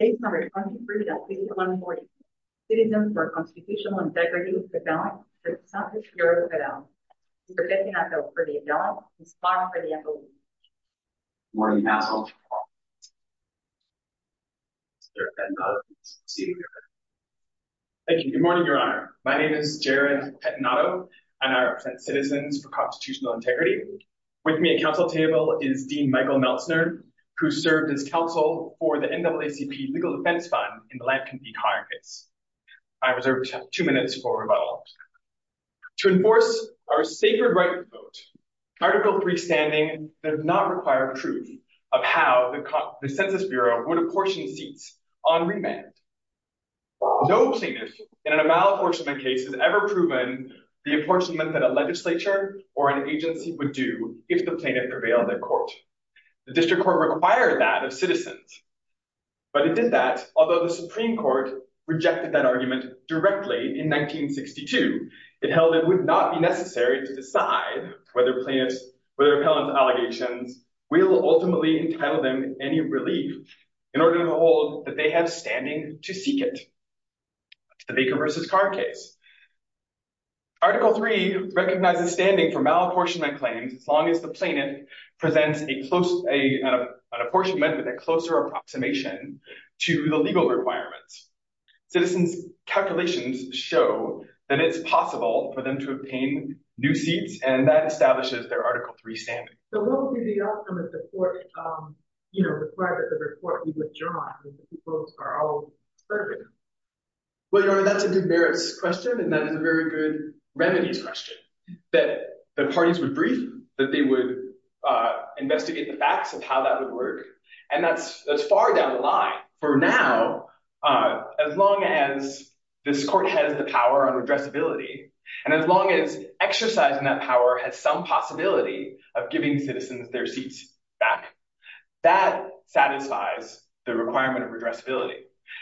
Case number 23.3142 Citizen for Constitutional Integrity v. Cadillac v. Census Bureau of Cadillac Mr. Pettinato for the Cadillac, Ms. Farr for the FOB Good morning, Council Mr. Pettinato, please proceed with your order Thank you. Good morning, Your Honor. My name is Jared Pettinato, and I represent Citizens for Constitutional Integrity With me at Council table is Dean Michael Meltzner, who served as counsel for the NAACP Legal Defense Fund in the Lankin v. Hirecase I reserve two minutes for rebuttal To enforce our sacred right to vote, Article III standing does not require proof of how the Census Bureau would apportion seats on remand No plaintiff in a malapportionment case has ever proven the apportionment that a legislature or an agency would do if the plaintiff prevailed in court The district court required that of citizens But it did that, although the Supreme Court rejected that argument directly in 1962 It held it would not be necessary to decide whether a plaintiff's repellent allegations will ultimately entitle them any relief in order to hold that they have standing to seek it The Baker v. Carr case Article III recognizes standing for malapportionment claims as long as the plaintiff presents an apportionment with a closer approximation to the legal requirements Citizens' calculations show that it's possible for them to obtain new seats, and that establishes their Article III standing So what would be the outcome if the court, you know, required that the report be withdrawn if the two votes are all conservative? Well, Your Honor, that's a good merits question, and that is a very good remedies question That parties would brief, that they would investigate the facts of how that would work And that's far down the line For now, as long as this court has the power on redressability, and as long as exercising that power has some possibility of giving citizens their seats back That satisfies the requirement of redressability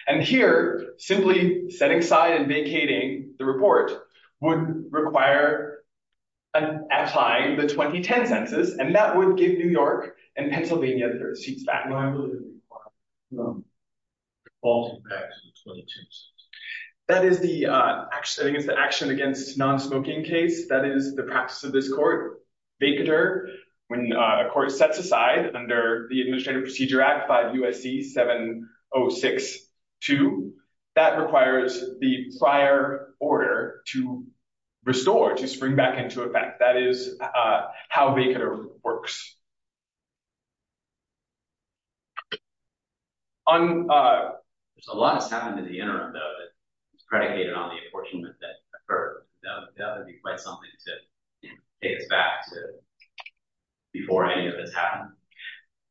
And here, simply setting aside and vacating the report would require applying the 2010 Census And that would give New York and Pennsylvania their seats back No, I believe it would require defaulting back to the 2010 Census That is the action against non-smoking case That is the practice of this court, vacater, when a court sets aside under the Administrative Procedure Act 5 U.S.C. 7062 That requires the prior order to restore, to spring back into effect That is how vacater works There's a lot of sound in the interim, though, that's predicated on the apportionment that occurred That would be quite something to take us back to before any of this happened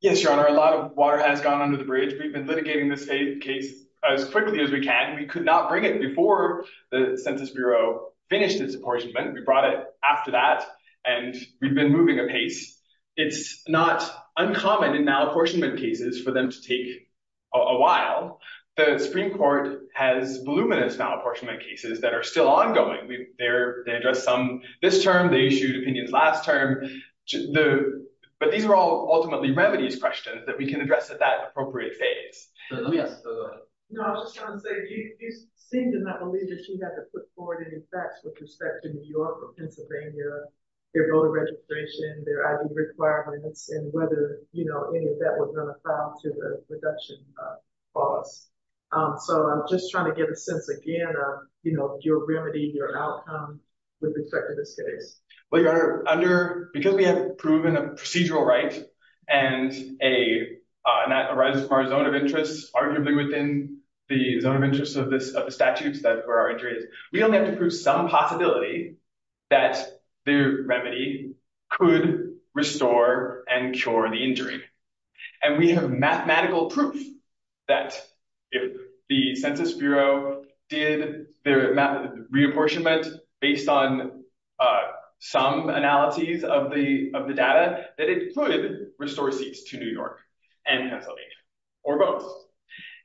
Yes, Your Honor, a lot of water has gone under the bridge We've been litigating this case as quickly as we can We could not bring it before the Census Bureau finished its apportionment We brought it after that, and we've been moving apace It's not uncommon in malapportionment cases for them to take a while The Supreme Court has voluminous malapportionment cases that are still ongoing They addressed some this term, they issued opinions last term But these are all ultimately remedies questions that we can address at that appropriate phase Let me ask, go ahead No, I was just trying to say, you seem to not believe that you had to put forward any facts with respect to New York or Pennsylvania Their voter registration, their ID requirements, and whether any of that was going to apply to the reduction clause So I'm just trying to get a sense, again, of your remedy, your outcome, with respect to this case Well, Your Honor, because we have proven a procedural right, and that arises from our zone of interest Arguably within the zone of interest of the statutes where our injury is We only have to prove some possibility that the remedy could restore and cure the injury And we have mathematical proof that if the Census Bureau did their reapportionment based on some analyses of the data That it could restore seats to New York and Pennsylvania, or both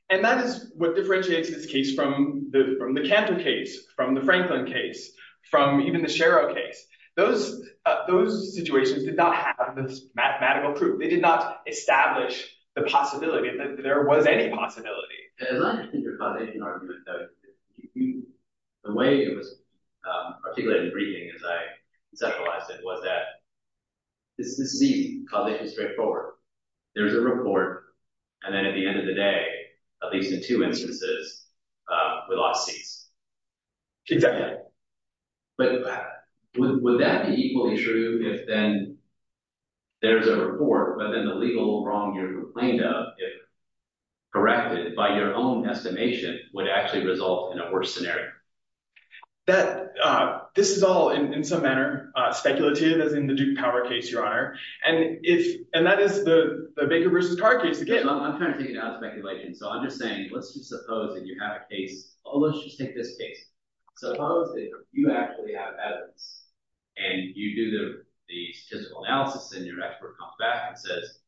And that is what differentiates this case from the Cantor case, from the Franklin case, from even the Shero case Those situations did not have this mathematical proof, they did not establish the possibility that there was any possibility As I understand your cognition argument, the way it was articulated in the briefing as I conceptualized it It's the seat, because it's straightforward There's a report, and then at the end of the day, at least in two instances, we lost seats Exactly But would that be equally true if then there's a report, but then the legal wrong you're complained of If corrected by your own estimation, would actually result in a worse scenario This is all in some manner speculative, as in the Duke Power case, your honor And that is the Baker v. Carr case I'm trying to take it out of speculation, so I'm just saying, let's just suppose that you have a case Let's just take this case, suppose that you actually have evidence And you do the statistical analysis and your expert comes back and says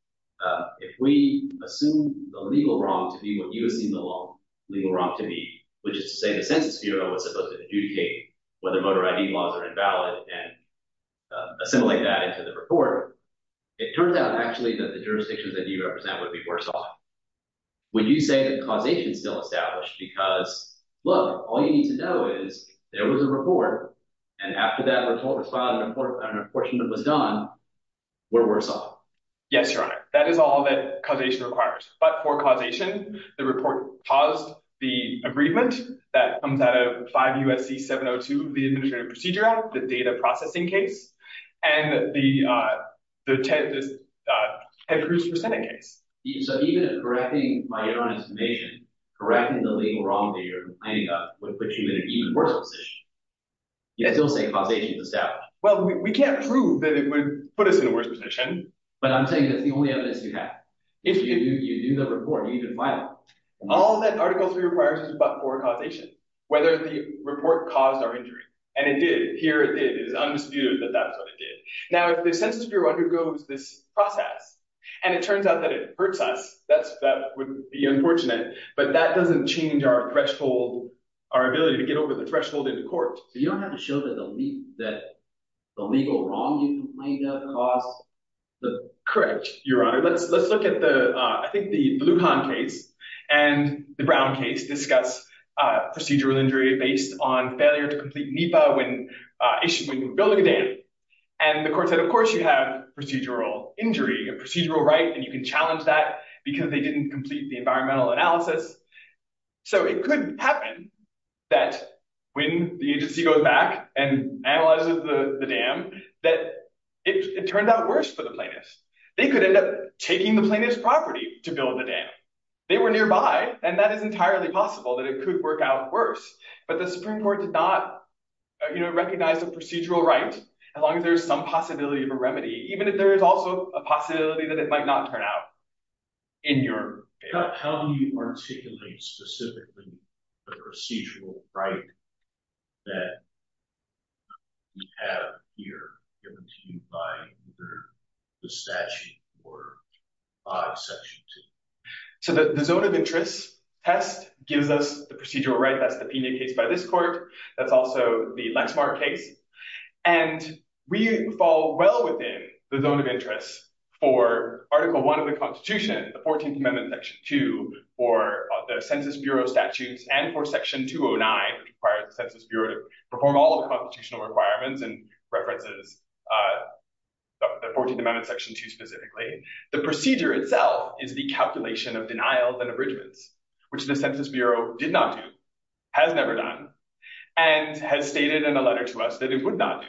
If we assume the legal wrong to be what you assume the legal wrong to be Which is to say the Census Bureau was supposed to adjudicate whether motor ID laws are invalid And assimilate that into the report It turns out actually that the jurisdictions that you represent would be worse off Would you say that causation is still established because, look, all you need to know is There was a report, and after that report was filed, and an apportionment was done, we're worse off Yes, your honor, that is all that causation requires But for causation, the report caused the agreement that comes out of 5 U.S.C. 702 of the Administrative Procedure Act The data processing case, and the Ted Cruz for Senate case So even if correcting my information, correcting the legal wrong that you're complaining about Would put you in an even worse position, you can still say causation is established Well, we can't prove that it would put us in a worse position But I'm saying that's the only evidence you have If you do the report, you need to file it All that Article 3 requires is but for causation Whether the report caused our injury, and it did Here it is, it is undisputed that that's what it did Now if the Census Bureau undergoes this process, and it turns out that it hurts us That would be unfortunate, but that doesn't change our threshold, our ability to get over the threshold in court So you don't have to show that the legal wrong you complained of caused the... Correct, Your Honor, let's look at the, I think the Bluhahn case And the Brown case discuss procedural injury based on failure to complete NEPA when building a dam And the court said of course you have procedural injury, procedural right And you can challenge that because they didn't complete the environmental analysis So it could happen that when the agency goes back and analyzes the dam That it turned out worse for the plaintiffs They could end up taking the plaintiff's property to build the dam They were nearby, and that is entirely possible that it could work out worse But the Supreme Court did not, you know, recognize the procedural right As long as there is some possibility of a remedy Even if there is also a possibility that it might not turn out in your favor How do you articulate specifically the procedural right that we have here Given to you by either the statute or Section 2? So the zone of interest test gives us the procedural right That's the Pena case by this court, that's also the Lexmark case And we fall well within the zone of interest for Article 1 of the Constitution The 14th Amendment Section 2 for the Census Bureau statutes And for Section 209 that required the Census Bureau to perform all the constitutional requirements And references the 14th Amendment Section 2 specifically The procedure itself is the calculation of denials and abridgments Which the Census Bureau did not do, has never done And has stated in a letter to us that it would not do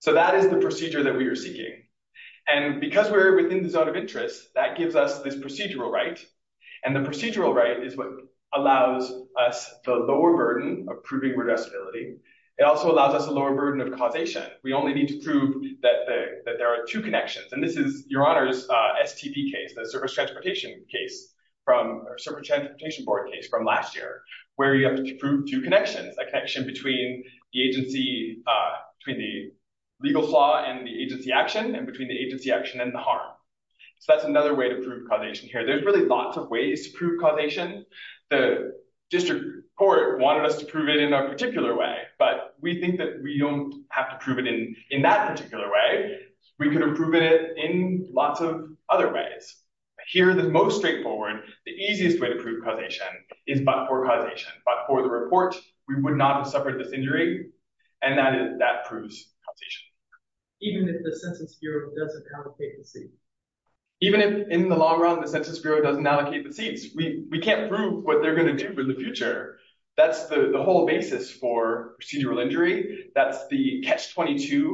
So that is the procedure that we are seeking And because we are within the zone of interest, that gives us this procedural right And the procedural right is what allows us the lower burden of proving redressability It also allows us a lower burden of causation We only need to prove that there are two connections And this is Your Honor's STP case, the Surface Transportation Board case from last year Where you have to prove two connections A connection between the agency, between the legal flaw and the agency action And between the agency action and the harm So that's another way to prove causation here There's really lots of ways to prove causation The District Court wanted us to prove it in a particular way But we think that we don't have to prove it in that particular way We could have proven it in lots of other ways Here the most straightforward, the easiest way to prove causation is but for causation But for the report, we would not have suffered this injury And that proves causation Even if the Census Bureau doesn't allocate the seats? Even if in the long run the Census Bureau doesn't allocate the seats We can't prove what they're going to do for the future That's the whole basis for procedural injury That's the Catch-22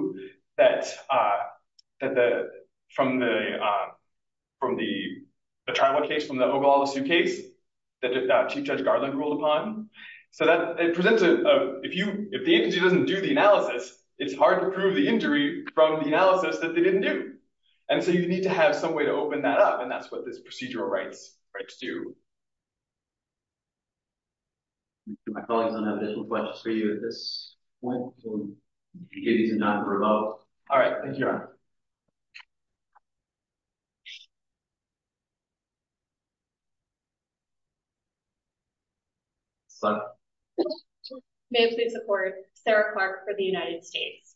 from the trial case, from the Ogallala Suitcase that Chief Judge Garland ruled upon So that presents, if the agency doesn't do the analysis It's hard to prove the injury from the analysis that they didn't do And so you need to have some way to open that up And that's what this procedural rights do My colleagues, I don't have any more questions for you at this point All right, thank you, Your Honor May I please support Sarah Clark for the United States?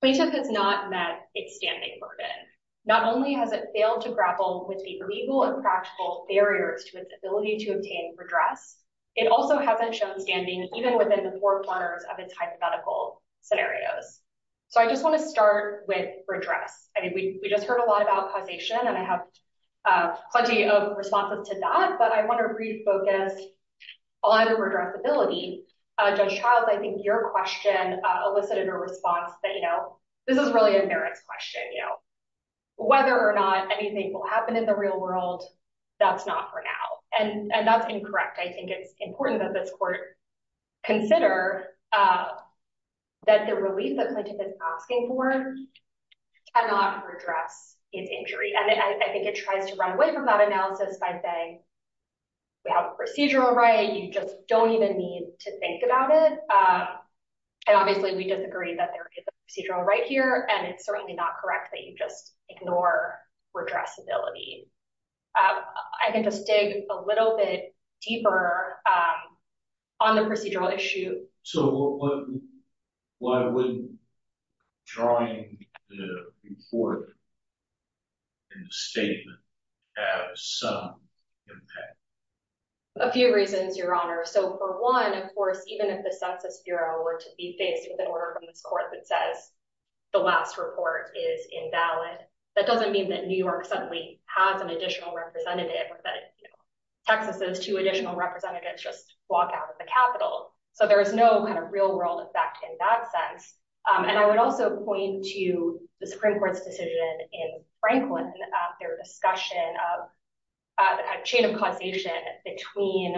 Clayton has not met its standing burden Not only has it failed to grapple with the legal and practical barriers to its ability to obtain redress It also hasn't shown standing even within the four corners of its hypothetical scenarios So I just want to start with redress I mean, we just heard a lot about causation, and I have plenty of responses to that But I want to refocus on redressability Judge Childs, I think your question elicited a response that, you know This is really a merits question, you know Whether or not anything will happen in the real world, that's not for now And that's incorrect I think it's important that this court consider that the relief that Clayton has been asking for cannot redress its injury And I think it tries to run away from that analysis by saying we have a procedural right You just don't even need to think about it And obviously we disagree that there is a procedural right here And it's certainly not correct that you just ignore redressability I can just dig a little bit deeper on the procedural issue So why wouldn't drawing the report in the statement have some impact? A few reasons, Your Honor So for one, of course, even if the Census Bureau were to be faced with an order from this court that says the last report is invalid That doesn't mean that New York suddenly has an additional representative or that Texas's two additional representatives just walk out of the Capitol So there is no kind of real world effect in that sense And I would also point to the Supreme Court's decision in Franklin Their discussion of the kind of chain of causation between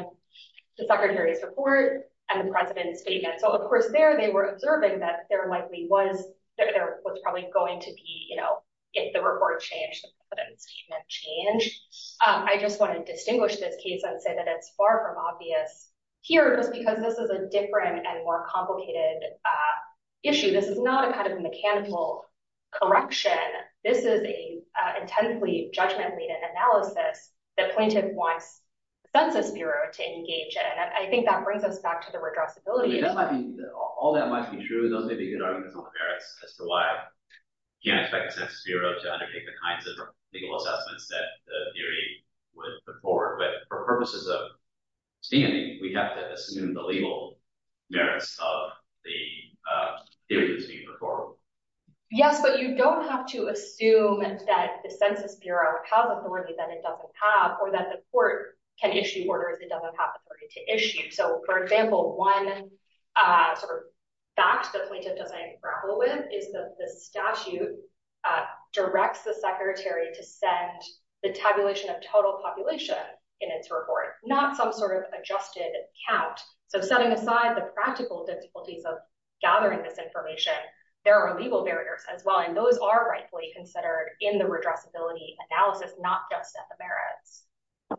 the Secretary's report and the President's statement So, of course, there they were observing that there likely was There was probably going to be, you know, if the report changed, the President's statement changed I just want to distinguish this case and say that it's far from obvious here Just because this is a different and more complicated issue This is not a kind of mechanical correction This is an intently judgment-laden analysis that plaintiff wants Census Bureau to engage in And I think that brings us back to the redressability All that might be true Those may be good arguments on the merits as to why you can't expect the Census Bureau to undertake the kinds of legal assessments That the theory would put forward But for purposes of standing, we have to assume the legal merits of the theory that's being put forward Yes, but you don't have to assume that the Census Bureau has authority that it doesn't have Or that the court can issue orders it doesn't have authority to issue So, for example, one sort of fact that plaintiff doesn't grapple with Is that the statute directs the Secretary to send the tabulation of total population in its report Not some sort of adjusted count So, setting aside the practical difficulties of gathering this information There are legal barriers as well And those are rightly considered in the redressability analysis, not just at the merits But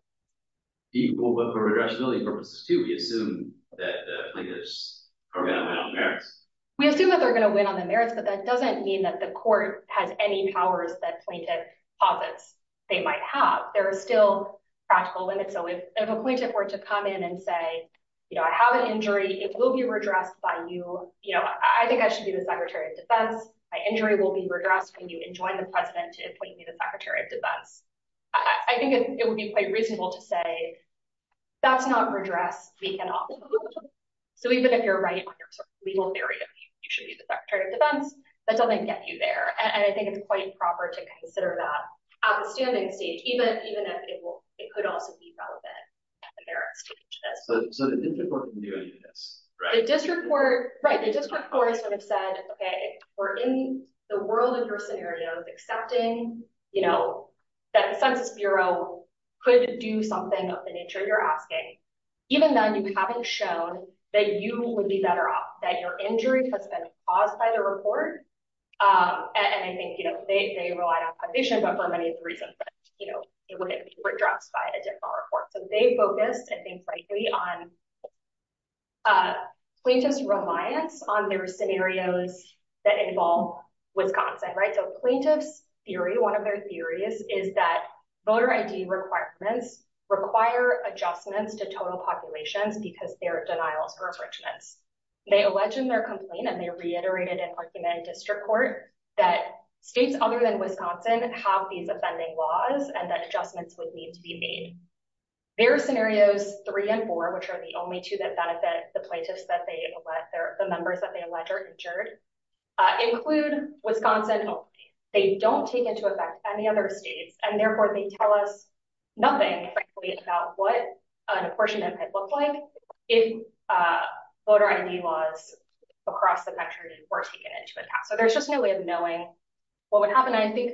for redressability purposes too, we assume that plaintiffs are going to win on the merits We assume that they're going to win on the merits But that doesn't mean that the court has any powers that plaintiff posits they might have There are still practical limits So, if a plaintiff were to come in and say, you know, I have an injury It will be redressed by you You know, I think I should be the Secretary of Defense My injury will be redressed when you enjoin the President to appoint me the Secretary of Defense I think it would be quite reasonable to say that's not redress We cannot So, even if you're right on your legal theory of you should be the Secretary of Defense That doesn't get you there And I think it's quite proper to consider that at the standing stage Even if it could also be relevant at the merits stage So, the district court can do any of this, right? The district court, right We're in the world of your scenarios accepting, you know, that the Census Bureau could do something of the nature you're asking Even though you haven't shown that you would be better off, that your injury has been caused by the report And I think, you know, they relied on a petition, but for many reasons, you know, it would be redressed by a different report So, they focused, I think, frankly on plaintiff's reliance on their scenarios that involve Wisconsin, right? So, plaintiff's theory, one of their theories is that voter ID requirements require adjustments to total populations because there are denials or restrictions They allege in their complaint, and they reiterated in argument in district court, that states other than Wisconsin have these offending laws and that adjustments would need to be made Their scenarios three and four, which are the only two that benefit the plaintiffs that they allege, the members that they allege are injured Include Wisconsin only They don't take into effect any other states And therefore, they tell us nothing, frankly, about what an apportionment might look like If voter ID laws across the country were taken into account So, there's just no way of knowing what would happen I think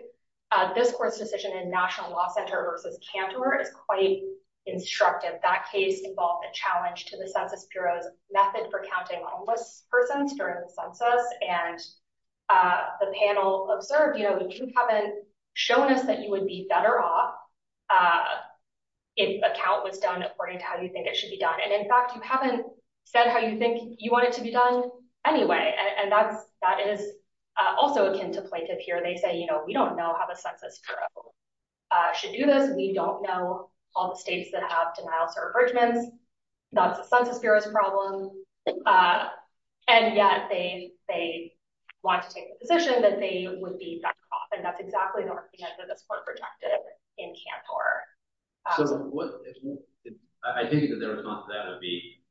this court's decision in National Law Center versus Cantor is quite instructive That case involved a challenge to the Census Bureau's method for counting homeless persons during the census And the panel observed, you know, you haven't shown us that you would be better off if a count was done according to how you think it should be done And, in fact, you haven't said how you think you want it to be done anyway And that is also akin to plaintiff here They say, you know, we don't know how the Census Bureau should do this We don't know all the states that have denials or averagements That's the Census Bureau's problem And yet they want to take the position that they would be better off And that's exactly the argument that this court projected in Cantor I think that their response to that would be,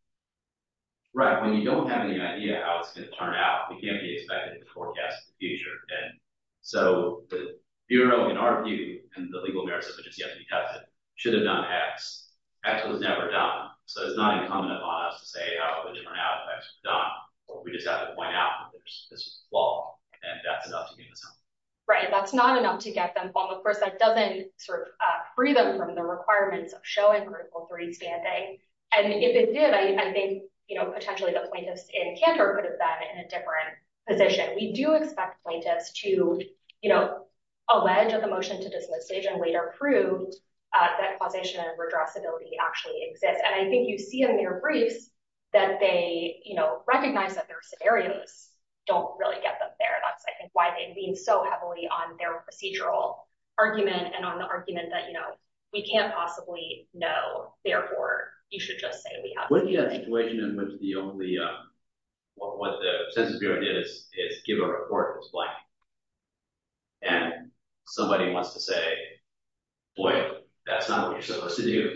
right, when you don't have any idea how it's going to turn out We can't be expected to forecast the future And so, the Bureau, in our view, and the legal merits of which is yet to be tested, should have done X X was never done So, it's not incumbent upon us to say how the different outtakes were done We just have to point out that there's this flaw And that's enough to get them something Right, that's not enough to get them something Of course, that doesn't sort of free them from the requirements of showing Critical 3 standing And if it did, I think, you know, potentially the plaintiffs in Cantor could have done it in a different position We do expect plaintiffs to, you know, allege of the motion to dismiss stage and later prove that causation and redressability actually exist And I think you see in their briefs that they, you know, recognize that their scenarios don't really get them there That's, I think, why they lean so heavily on their procedural argument and on the argument that, you know, we can't possibly know Therefore, you should just say we have What if you had a situation in which the only, what the Census Bureau did is give a report that's blank And somebody wants to say, boy, that's not what you're supposed to do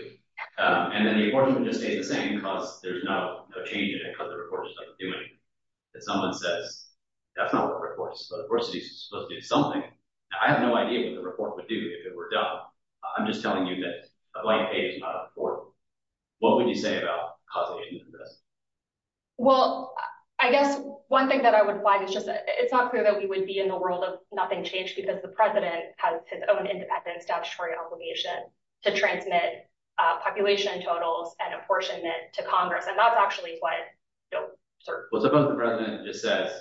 And then the report just stays the same because there's no change in it because the report just doesn't do anything If someone says, that's not what the report is supposed to do, it's supposed to do something I have no idea what the report would do if it were done I'm just telling you that a blank page is not important What would you say about causation and redress? Well, I guess one thing that I would find is just that it's not clear that we would be in the world of nothing changed Because the president has his own independent statutory obligation to transmit population totals and apportionment to Congress And that's actually quite, you know, certain Well, suppose the president just says,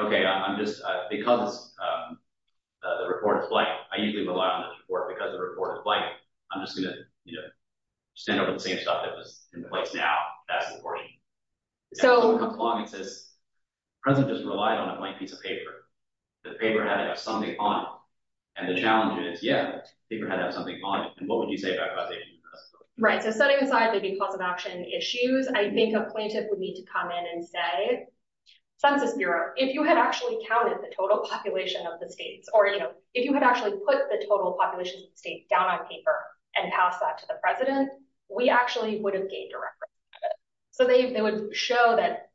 okay, I'm just, because the report is blank I usually rely on the report because the report is blank I'm just going to, you know, stand over the same stuff that was in place now That's important So And someone comes along and says, the president just relied on a blank piece of paper The paper had to have something on it And the challenge is, yeah, the paper had to have something on it And what would you say about causation and redress? Right, so setting aside maybe cause of action issues, I think a plaintiff would need to come in and say Census Bureau, if you had actually counted the total population of the states or, you know If you had actually put the total population of the states down on paper and passed that to the president We actually would have gained a record So they would show that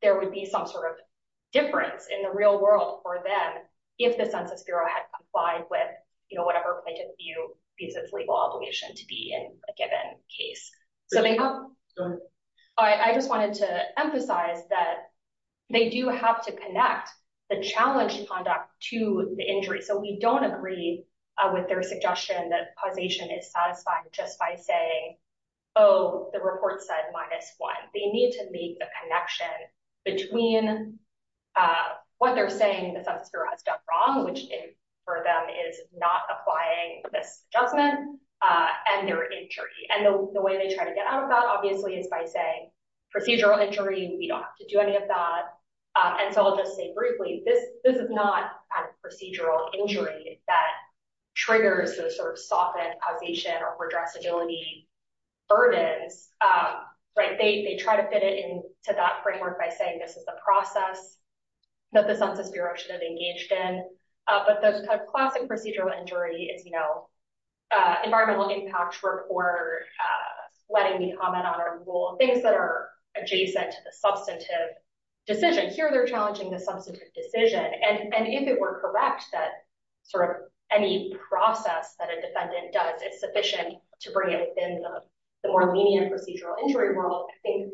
there would be some sort of difference in the real world for them If the Census Bureau had complied with, you know, whatever plaintiff views its legal obligation to be in a given case So, I just wanted to emphasize that they do have to connect the challenge conduct to the injury So we don't agree with their suggestion that causation is satisfying just by saying, oh, the report said minus one They need to make a connection between what they're saying the Census Bureau has done wrong Which for them is not applying this judgment and their injury And the way they try to get out of that, obviously, is by saying procedural injury We don't have to do any of that And so I'll just say briefly, this is not procedural injury that triggers the sort of softened causation or redressability burdens They try to fit it into that framework by saying this is the process that the Census Bureau should have engaged in But the classic procedural injury is, you know, environmental impact report, letting me comment on our rule Things that are adjacent to the substantive decision Here they're challenging the substantive decision And if it were correct that sort of any process that a defendant does is sufficient to bring it in the more lenient procedural injury world I think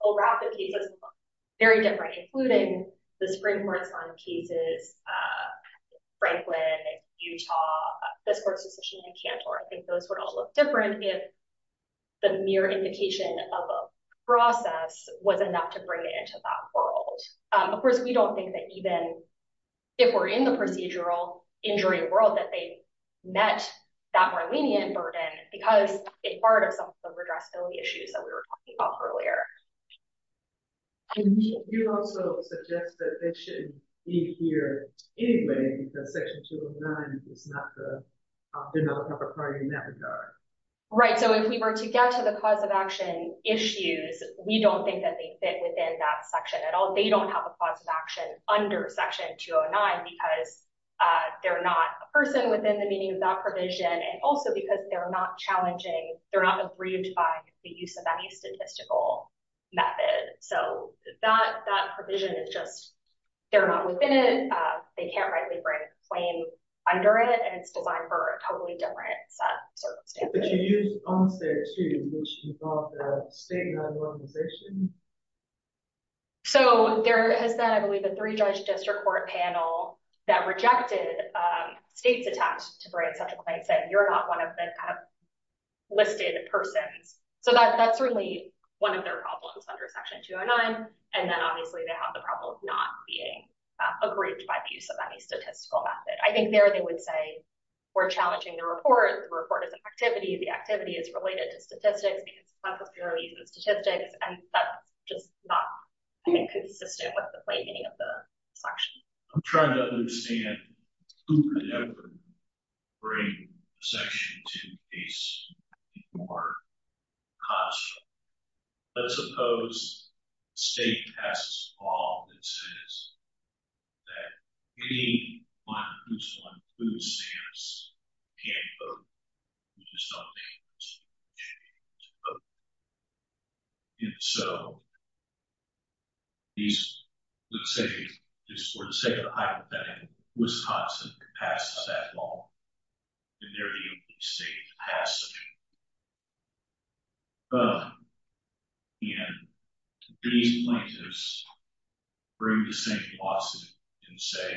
all rapid cases are very different, including the Supreme Court's own cases, Franklin, Utah, this court's decision in Cantor I think those would all look different if the mere indication of a process was enough to bring it into that world Of course, we don't think that even if we're in the procedural injury world that they met that more lenient burden Because it's part of some of the redressability issues that we were talking about earlier You also suggest that they shouldn't be here anyway because Section 209 is not the developer property in that regard Right, so if we were to get to the cause of action issues, we don't think that they fit within that section at all They don't have a cause of action under Section 209 because they're not a person within the meaning of that provision And also because they're not challenging, they're not aggrieved by the use of any statistical method So that provision is just, they're not within it, they can't rightly bring a claim under it And it's designed for a totally different set of circumstances But you used onset too, which involved a state-run organization So there has been, I believe, a three-judge district court panel that rejected states' attempt to bring such a claim Saying you're not one of the listed persons So that's certainly one of their problems under Section 209 And then obviously they have the problem of not being aggrieved by the use of any statistical method I think there they would say we're challenging the report, the report is an activity, the activity is related to statistics And that's just not consistent with the plain meaning of the section I'm trying to understand who could ever bring Section 209 to court Let's suppose a state passes a law that says that anyone who's on food stamps can't vote Which is something that should be changed And so, let's say for the sake of hypothetical, Wisconsin passes that law And they're the only state to pass such a law And these plaintiffs bring the same lawsuit and say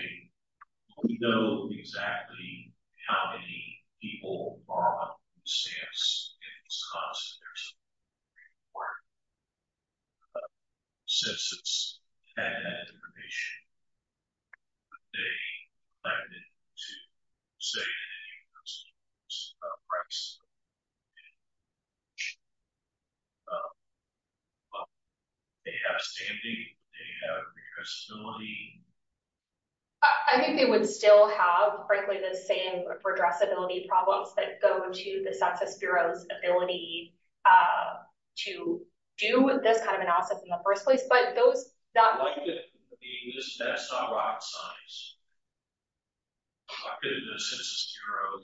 We know exactly how many people are on food stamps in Wisconsin There's a report that says this and that information But they claim to save the students' price They have stamping, they have redressability I think they would still have frankly the same redressability problems that go to the Census Bureau's ability To do this kind of analysis in the first place I think it would be best if I were out of science I could go to the Census Bureau I don't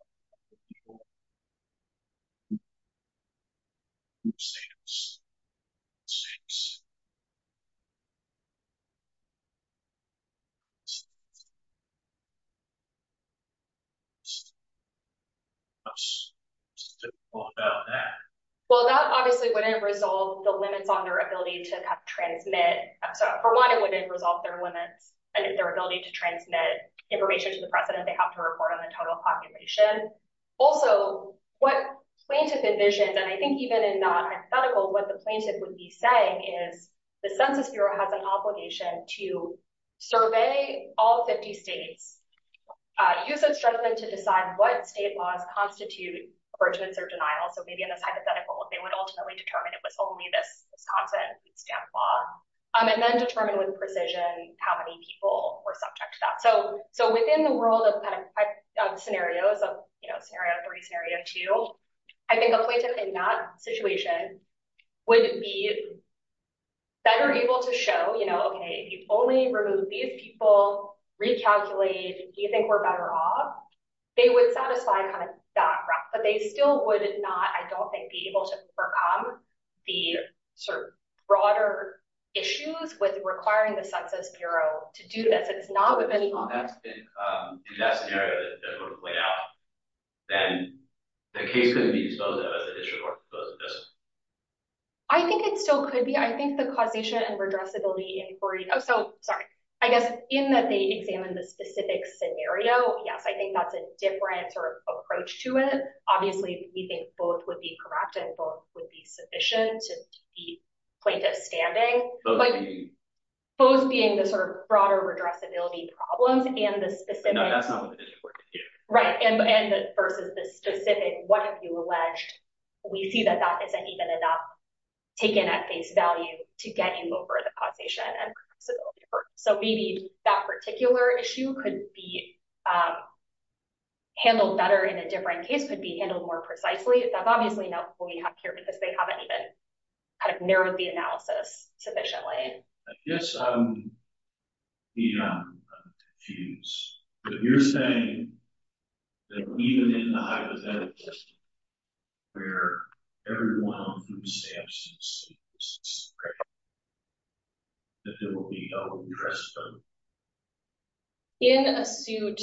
know how many people are on food stamps What about that? Well, that obviously wouldn't resolve the limits on their ability to transmit For one, it wouldn't resolve their limits on their ability to transmit information to the president They have to report on the total population Also, what plaintiff envisions, and I think even in that hypothetical What the plaintiff would be saying is The Census Bureau has an obligation to survey all 50 states Use its judgment to decide what state laws constitute abridgments or denial So maybe in this hypothetical, they would ultimately determine it was only this Wisconsin stamp law And then determine with precision how many people were subject to that So within the world of scenarios, Scenario 3, Scenario 2 I think a plaintiff in that situation would be better able to show If you only remove these people, recalculate, do you think we're better off? They would satisfy that graph But they still would not, I don't think, be able to overcome the broader issues With requiring the Census Bureau to do this If that's the scenario that would play out Then the case couldn't be exposed as an issue I think it still could be I think the causation and redressability inquiry I guess in that they examine the specific scenario Yes, I think that's a different sort of approach to it Obviously, we think both would be correct And both would be sufficient to keep the plaintiff standing Both being the sort of broader redressability problems And the specific Right, and versus the specific What have you alleged? We see that that isn't even enough taken at face value To get you over the causation and redressability Handled better in a different case Could be handled more precisely That's obviously not what we have here Because they haven't even kind of narrowed the analysis sufficiently I guess I'm beyond confused But you're saying that even in the hypothetical Where everyone from SAMHSA sees this That there will be no redressability In a suit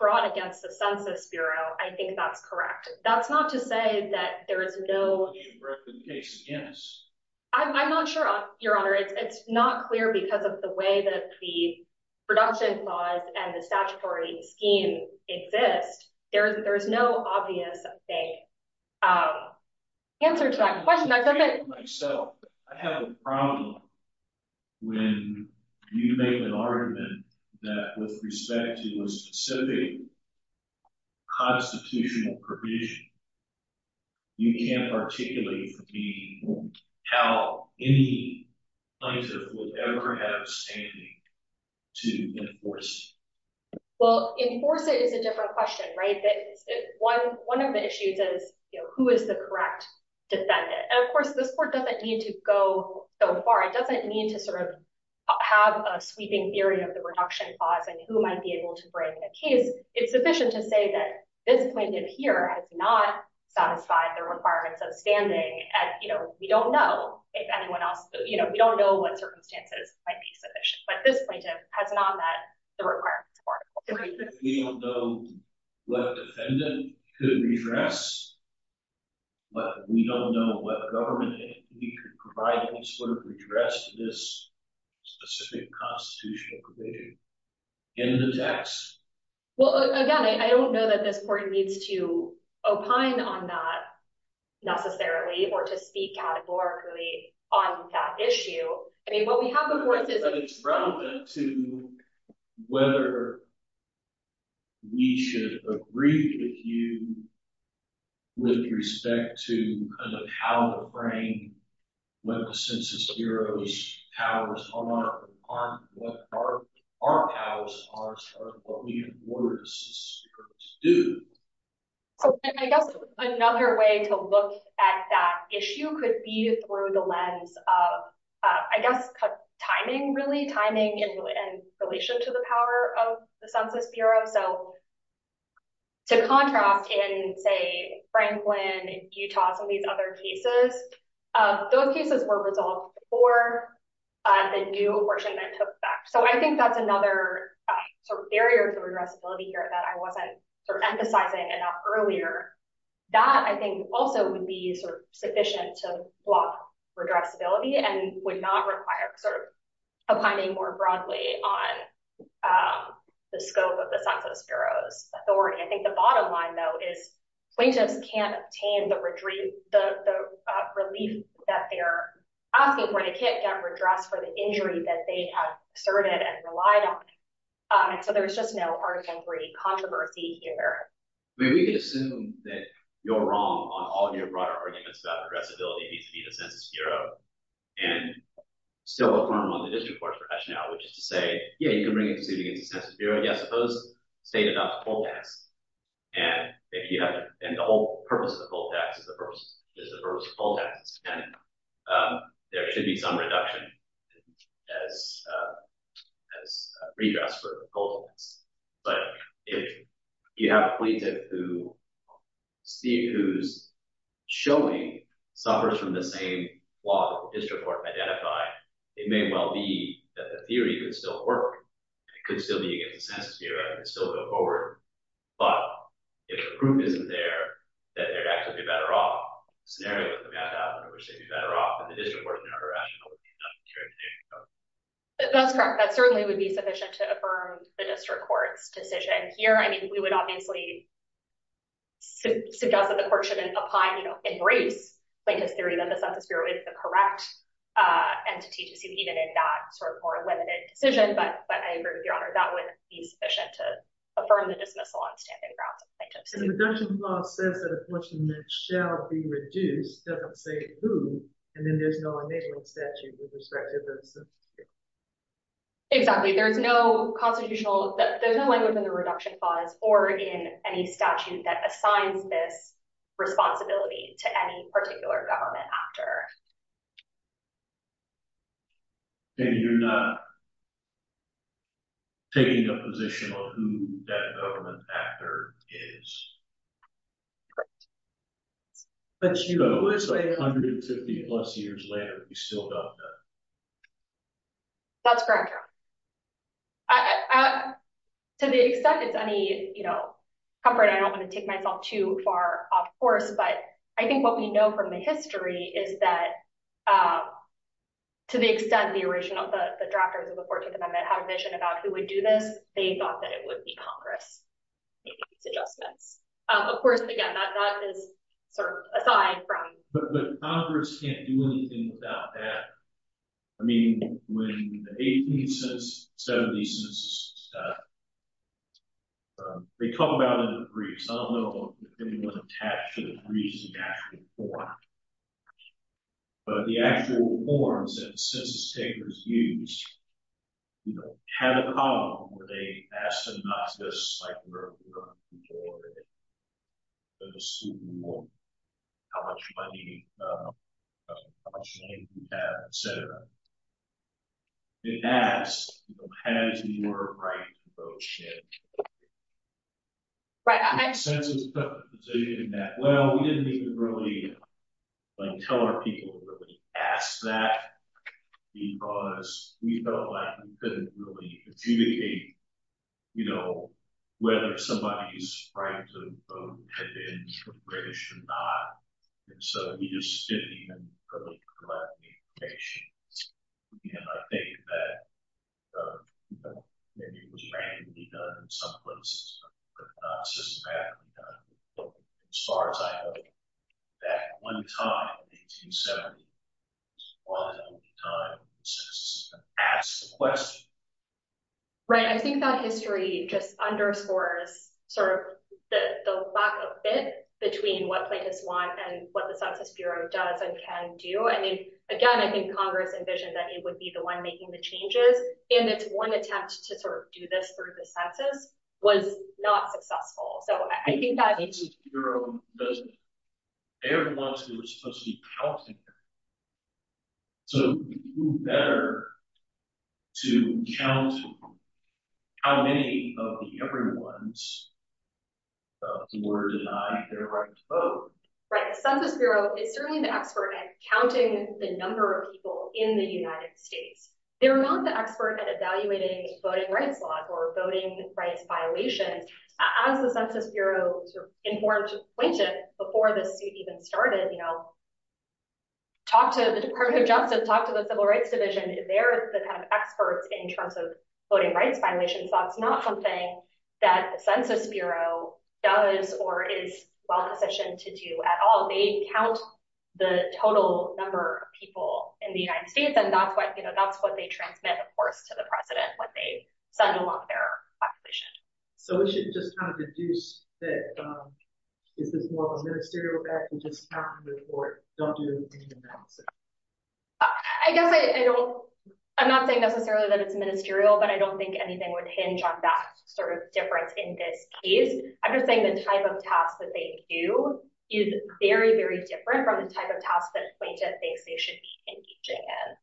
brought against the Census Bureau I think that's correct That's not to say that there is no Redressability case, yes I'm not sure, Your Honor It's not clear because of the way that the production laws And the statutory scheme exist There is no obvious answer to that question I have a problem when you make an argument That with respect to a specific constitutional provision You can't articulate to me How any plaintiff will ever have standing to enforce Well, enforce it is a different question, right? One of the issues is who is the correct defendant? And of course, this court doesn't need to go so far It doesn't need to sort of have a sweeping theory Of the reduction clause And who might be able to bring a case It's sufficient to say that this plaintiff here Has not satisfied the requirements of standing And we don't know if anyone else We don't know what circumstances might be sufficient But this plaintiff has not met the requirements of article 3 We don't know what defendant could redress But we don't know what government We could provide to address this specific constitutional provision In the text Well, again, I don't know that this court needs to Opine on that necessarily Or to speak categorically on that issue I mean, what we have before us is But it's relevant to whether we should agree with you With respect to how to bring What the Census Bureau's powers are What our powers are What we in order to do So I guess another way to look at that issue Could be through the lens of, I guess, timing Really timing in relation to the power of the Census Bureau So to contrast in, say, Franklin, Utah Some of these other cases Those cases were resolved before the new apportionment took effect So I think that's another sort of barrier to redressability here That I wasn't sort of emphasizing enough earlier That, I think, also would be sort of sufficient To block redressability And would not require sort of opining more broadly On the scope of the Census Bureau's authority I think the bottom line, though, is Plaintiffs can't obtain the relief that they're asking for They can't get redress for the injury that they have asserted and relied on And so there's just no argument-free controversy here We can assume that you're wrong on all your broader arguments About redressability vis-à-vis the Census Bureau And still affirm on the district court's rationale Which is to say, yeah, you can bring it to suit against the Census Bureau Yes, suppose the state adopts a full tax And the whole purpose of the full tax is the purpose of the full tax And there should be some reduction as redress for the full tax But if you have a plaintiff who Steve, who's showing, suffers from the same flaw That the district court identified It may well be that the theory could still work It could still be against the Census Bureau It could still go forward But if the proof isn't there That they'd actually be better off The scenario that we have to have in which they'd be better off And the district court's rationale would be not to carry the case That's correct That certainly would be sufficient to affirm the district court's decision Here, I mean, we would obviously suggest that the court shouldn't apply, you know, in grace Plaintiffs' theory that the Census Bureau is the correct Entity to see even in that sort of more limited decision But I agree with your honor That would be sufficient to affirm the dismissal on standing grounds of plaintiffs' theory The reduction clause says that a person that shall be reduced doesn't say who And then there's no enabling statute with respect to this Exactly There's no constitutional There's no language in the reduction clause or in any statute that assigns this responsibility To any particular government actor And you're not taking a position on who that government actor is Correct But, you know, it was 850 plus years later We still don't know That's correct, your honor To the extent it's any, you know, comfort I don't want to take myself too far off course But I think what we know from the history is that To the extent the original, the drafters of the 14th Amendment had a vision about who would do this They thought that it would be Congress Of course, again, that is sort of aside from But Congress can't do anything about that I mean, when the 18th Census, 17th Census They talk about it in briefs I don't know if anyone was attached to the briefs in the actual form But the actual forms that the census takers used You know, had a column where they asked them not to do this Like we're going to do for the student loan It asks, you know, has your right to vote changed? Right Well, we didn't even really Like tell our people to ask that Because we felt like we couldn't really communicate You know, whether somebody's right to vote had been British or not And so we just didn't even really collect the information And I think that Maybe it was randomly done in some places But not systematically done As far as I know That one time in 1870 Was one of the only times the census system asked the question Right, I think that history just underscores Sort of the lack of fit between what plaintiffs want And what the Census Bureau does and can do I mean, again, I think Congress envisioned that it would be the one making the changes And it's one attempt to sort of do this through the census Was not successful So I think that The Census Bureau doesn't Every once in a while it's supposed to be counting So who better to count How many of the everyone's Were denied their right to vote Right, the Census Bureau is certainly the expert at counting The number of people in the United States They're not the expert at evaluating voting rights law Or voting rights violations As the Census Bureau informed plaintiffs Before the suit even started Talk to the Department of Justice Talk to the Civil Rights Division They're the kind of experts in terms of voting rights violations So that's not something that the Census Bureau does Or is well-positioned to do at all They count the total number of people in the United States And that's what they transmit, of course, to the President What they send along their population So we should just kind of deduce that Is this more of a ministerial act And just count them before it Don't do anything else I guess I don't I'm not saying necessarily that it's ministerial But I don't think anything would hinge on that Sort of difference in this case I'm just saying the type of tasks that they do Is very, very different from the type of tasks That a plaintiff thinks they should be engaging in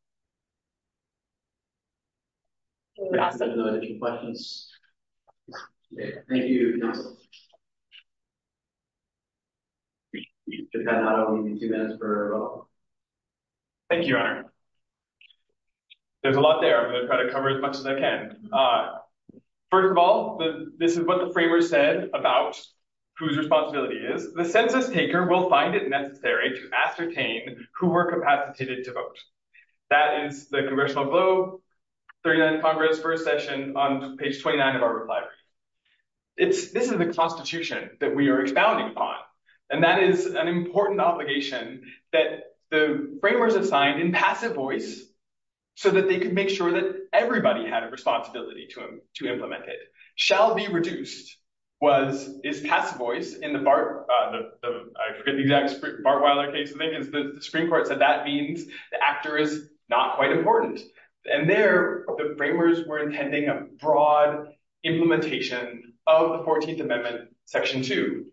Any questions? Thank you, counsel We have two minutes for our vote Thank you, Your Honor There's a lot there I'm going to try to cover as much as I can First of all, this is what the framers said About whose responsibility it is The census taker will find it necessary To ascertain who were capacitated to vote That is the Congressional Globe 39th Congress, first session On page 29 of our reply This is the Constitution That we are expounding upon And that is an important obligation That the framers have signed In passive voice So that they can make sure that everybody Had a responsibility to implement it Shall be reduced Is passive voice In the Bart Weiler case The Supreme Court said that means The actor is not quite important And there, the framers were intending A broad implementation Of the 14th Amendment Section 2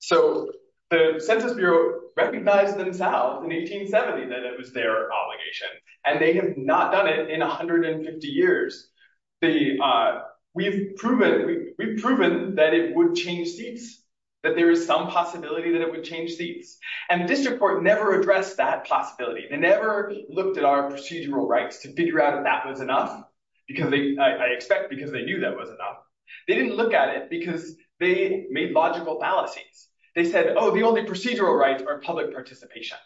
So the Census Bureau Recognized themselves in 1870 That it was their obligation And they have not done it In 150 years We've proven That it would change seats That there is some possibility That it would change seats And the District Court never addressed that possibility They never looked at our procedural rights To figure out if that was enough I expect because they knew that was enough They didn't look at it Because they made logical fallacies They said, oh, the only procedural rights Are public participation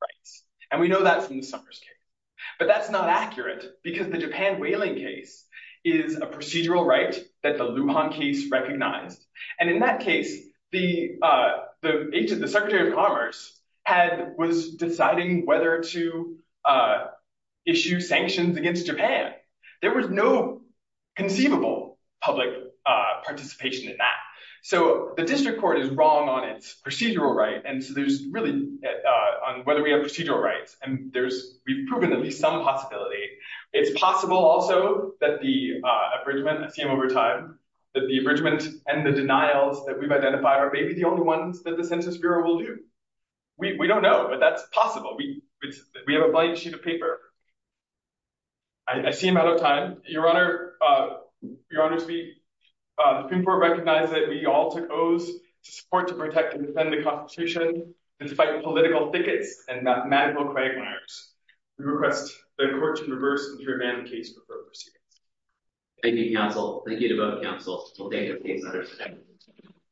rights And we know that from the Summers case But that's not accurate Because the Japan Whaling case Is a procedural right that the Luhan case Recognized And in that case The Secretary of Commerce Was deciding whether to Issue sanctions Against Japan There was no conceivable Public participation In that So the District Court is wrong on its procedural right And so there's really On whether we have procedural rights And we've proven at least some possibility It's possible also That the abridgment I see them over time That the abridgment and the denials that we've identified Are maybe the only ones that the Census Bureau will do We don't know, but that's possible We have a blank sheet of paper I see them out of time Your Honor Your Honor to speak The Supreme Court recognizes that we all took oaths To support, to protect, and defend the Constitution Despite political thickets And mathematical quagmires We request the Court to reverse And to abandon the case for further proceedings Thank you, Counsel Thank you to both Counsels Thank you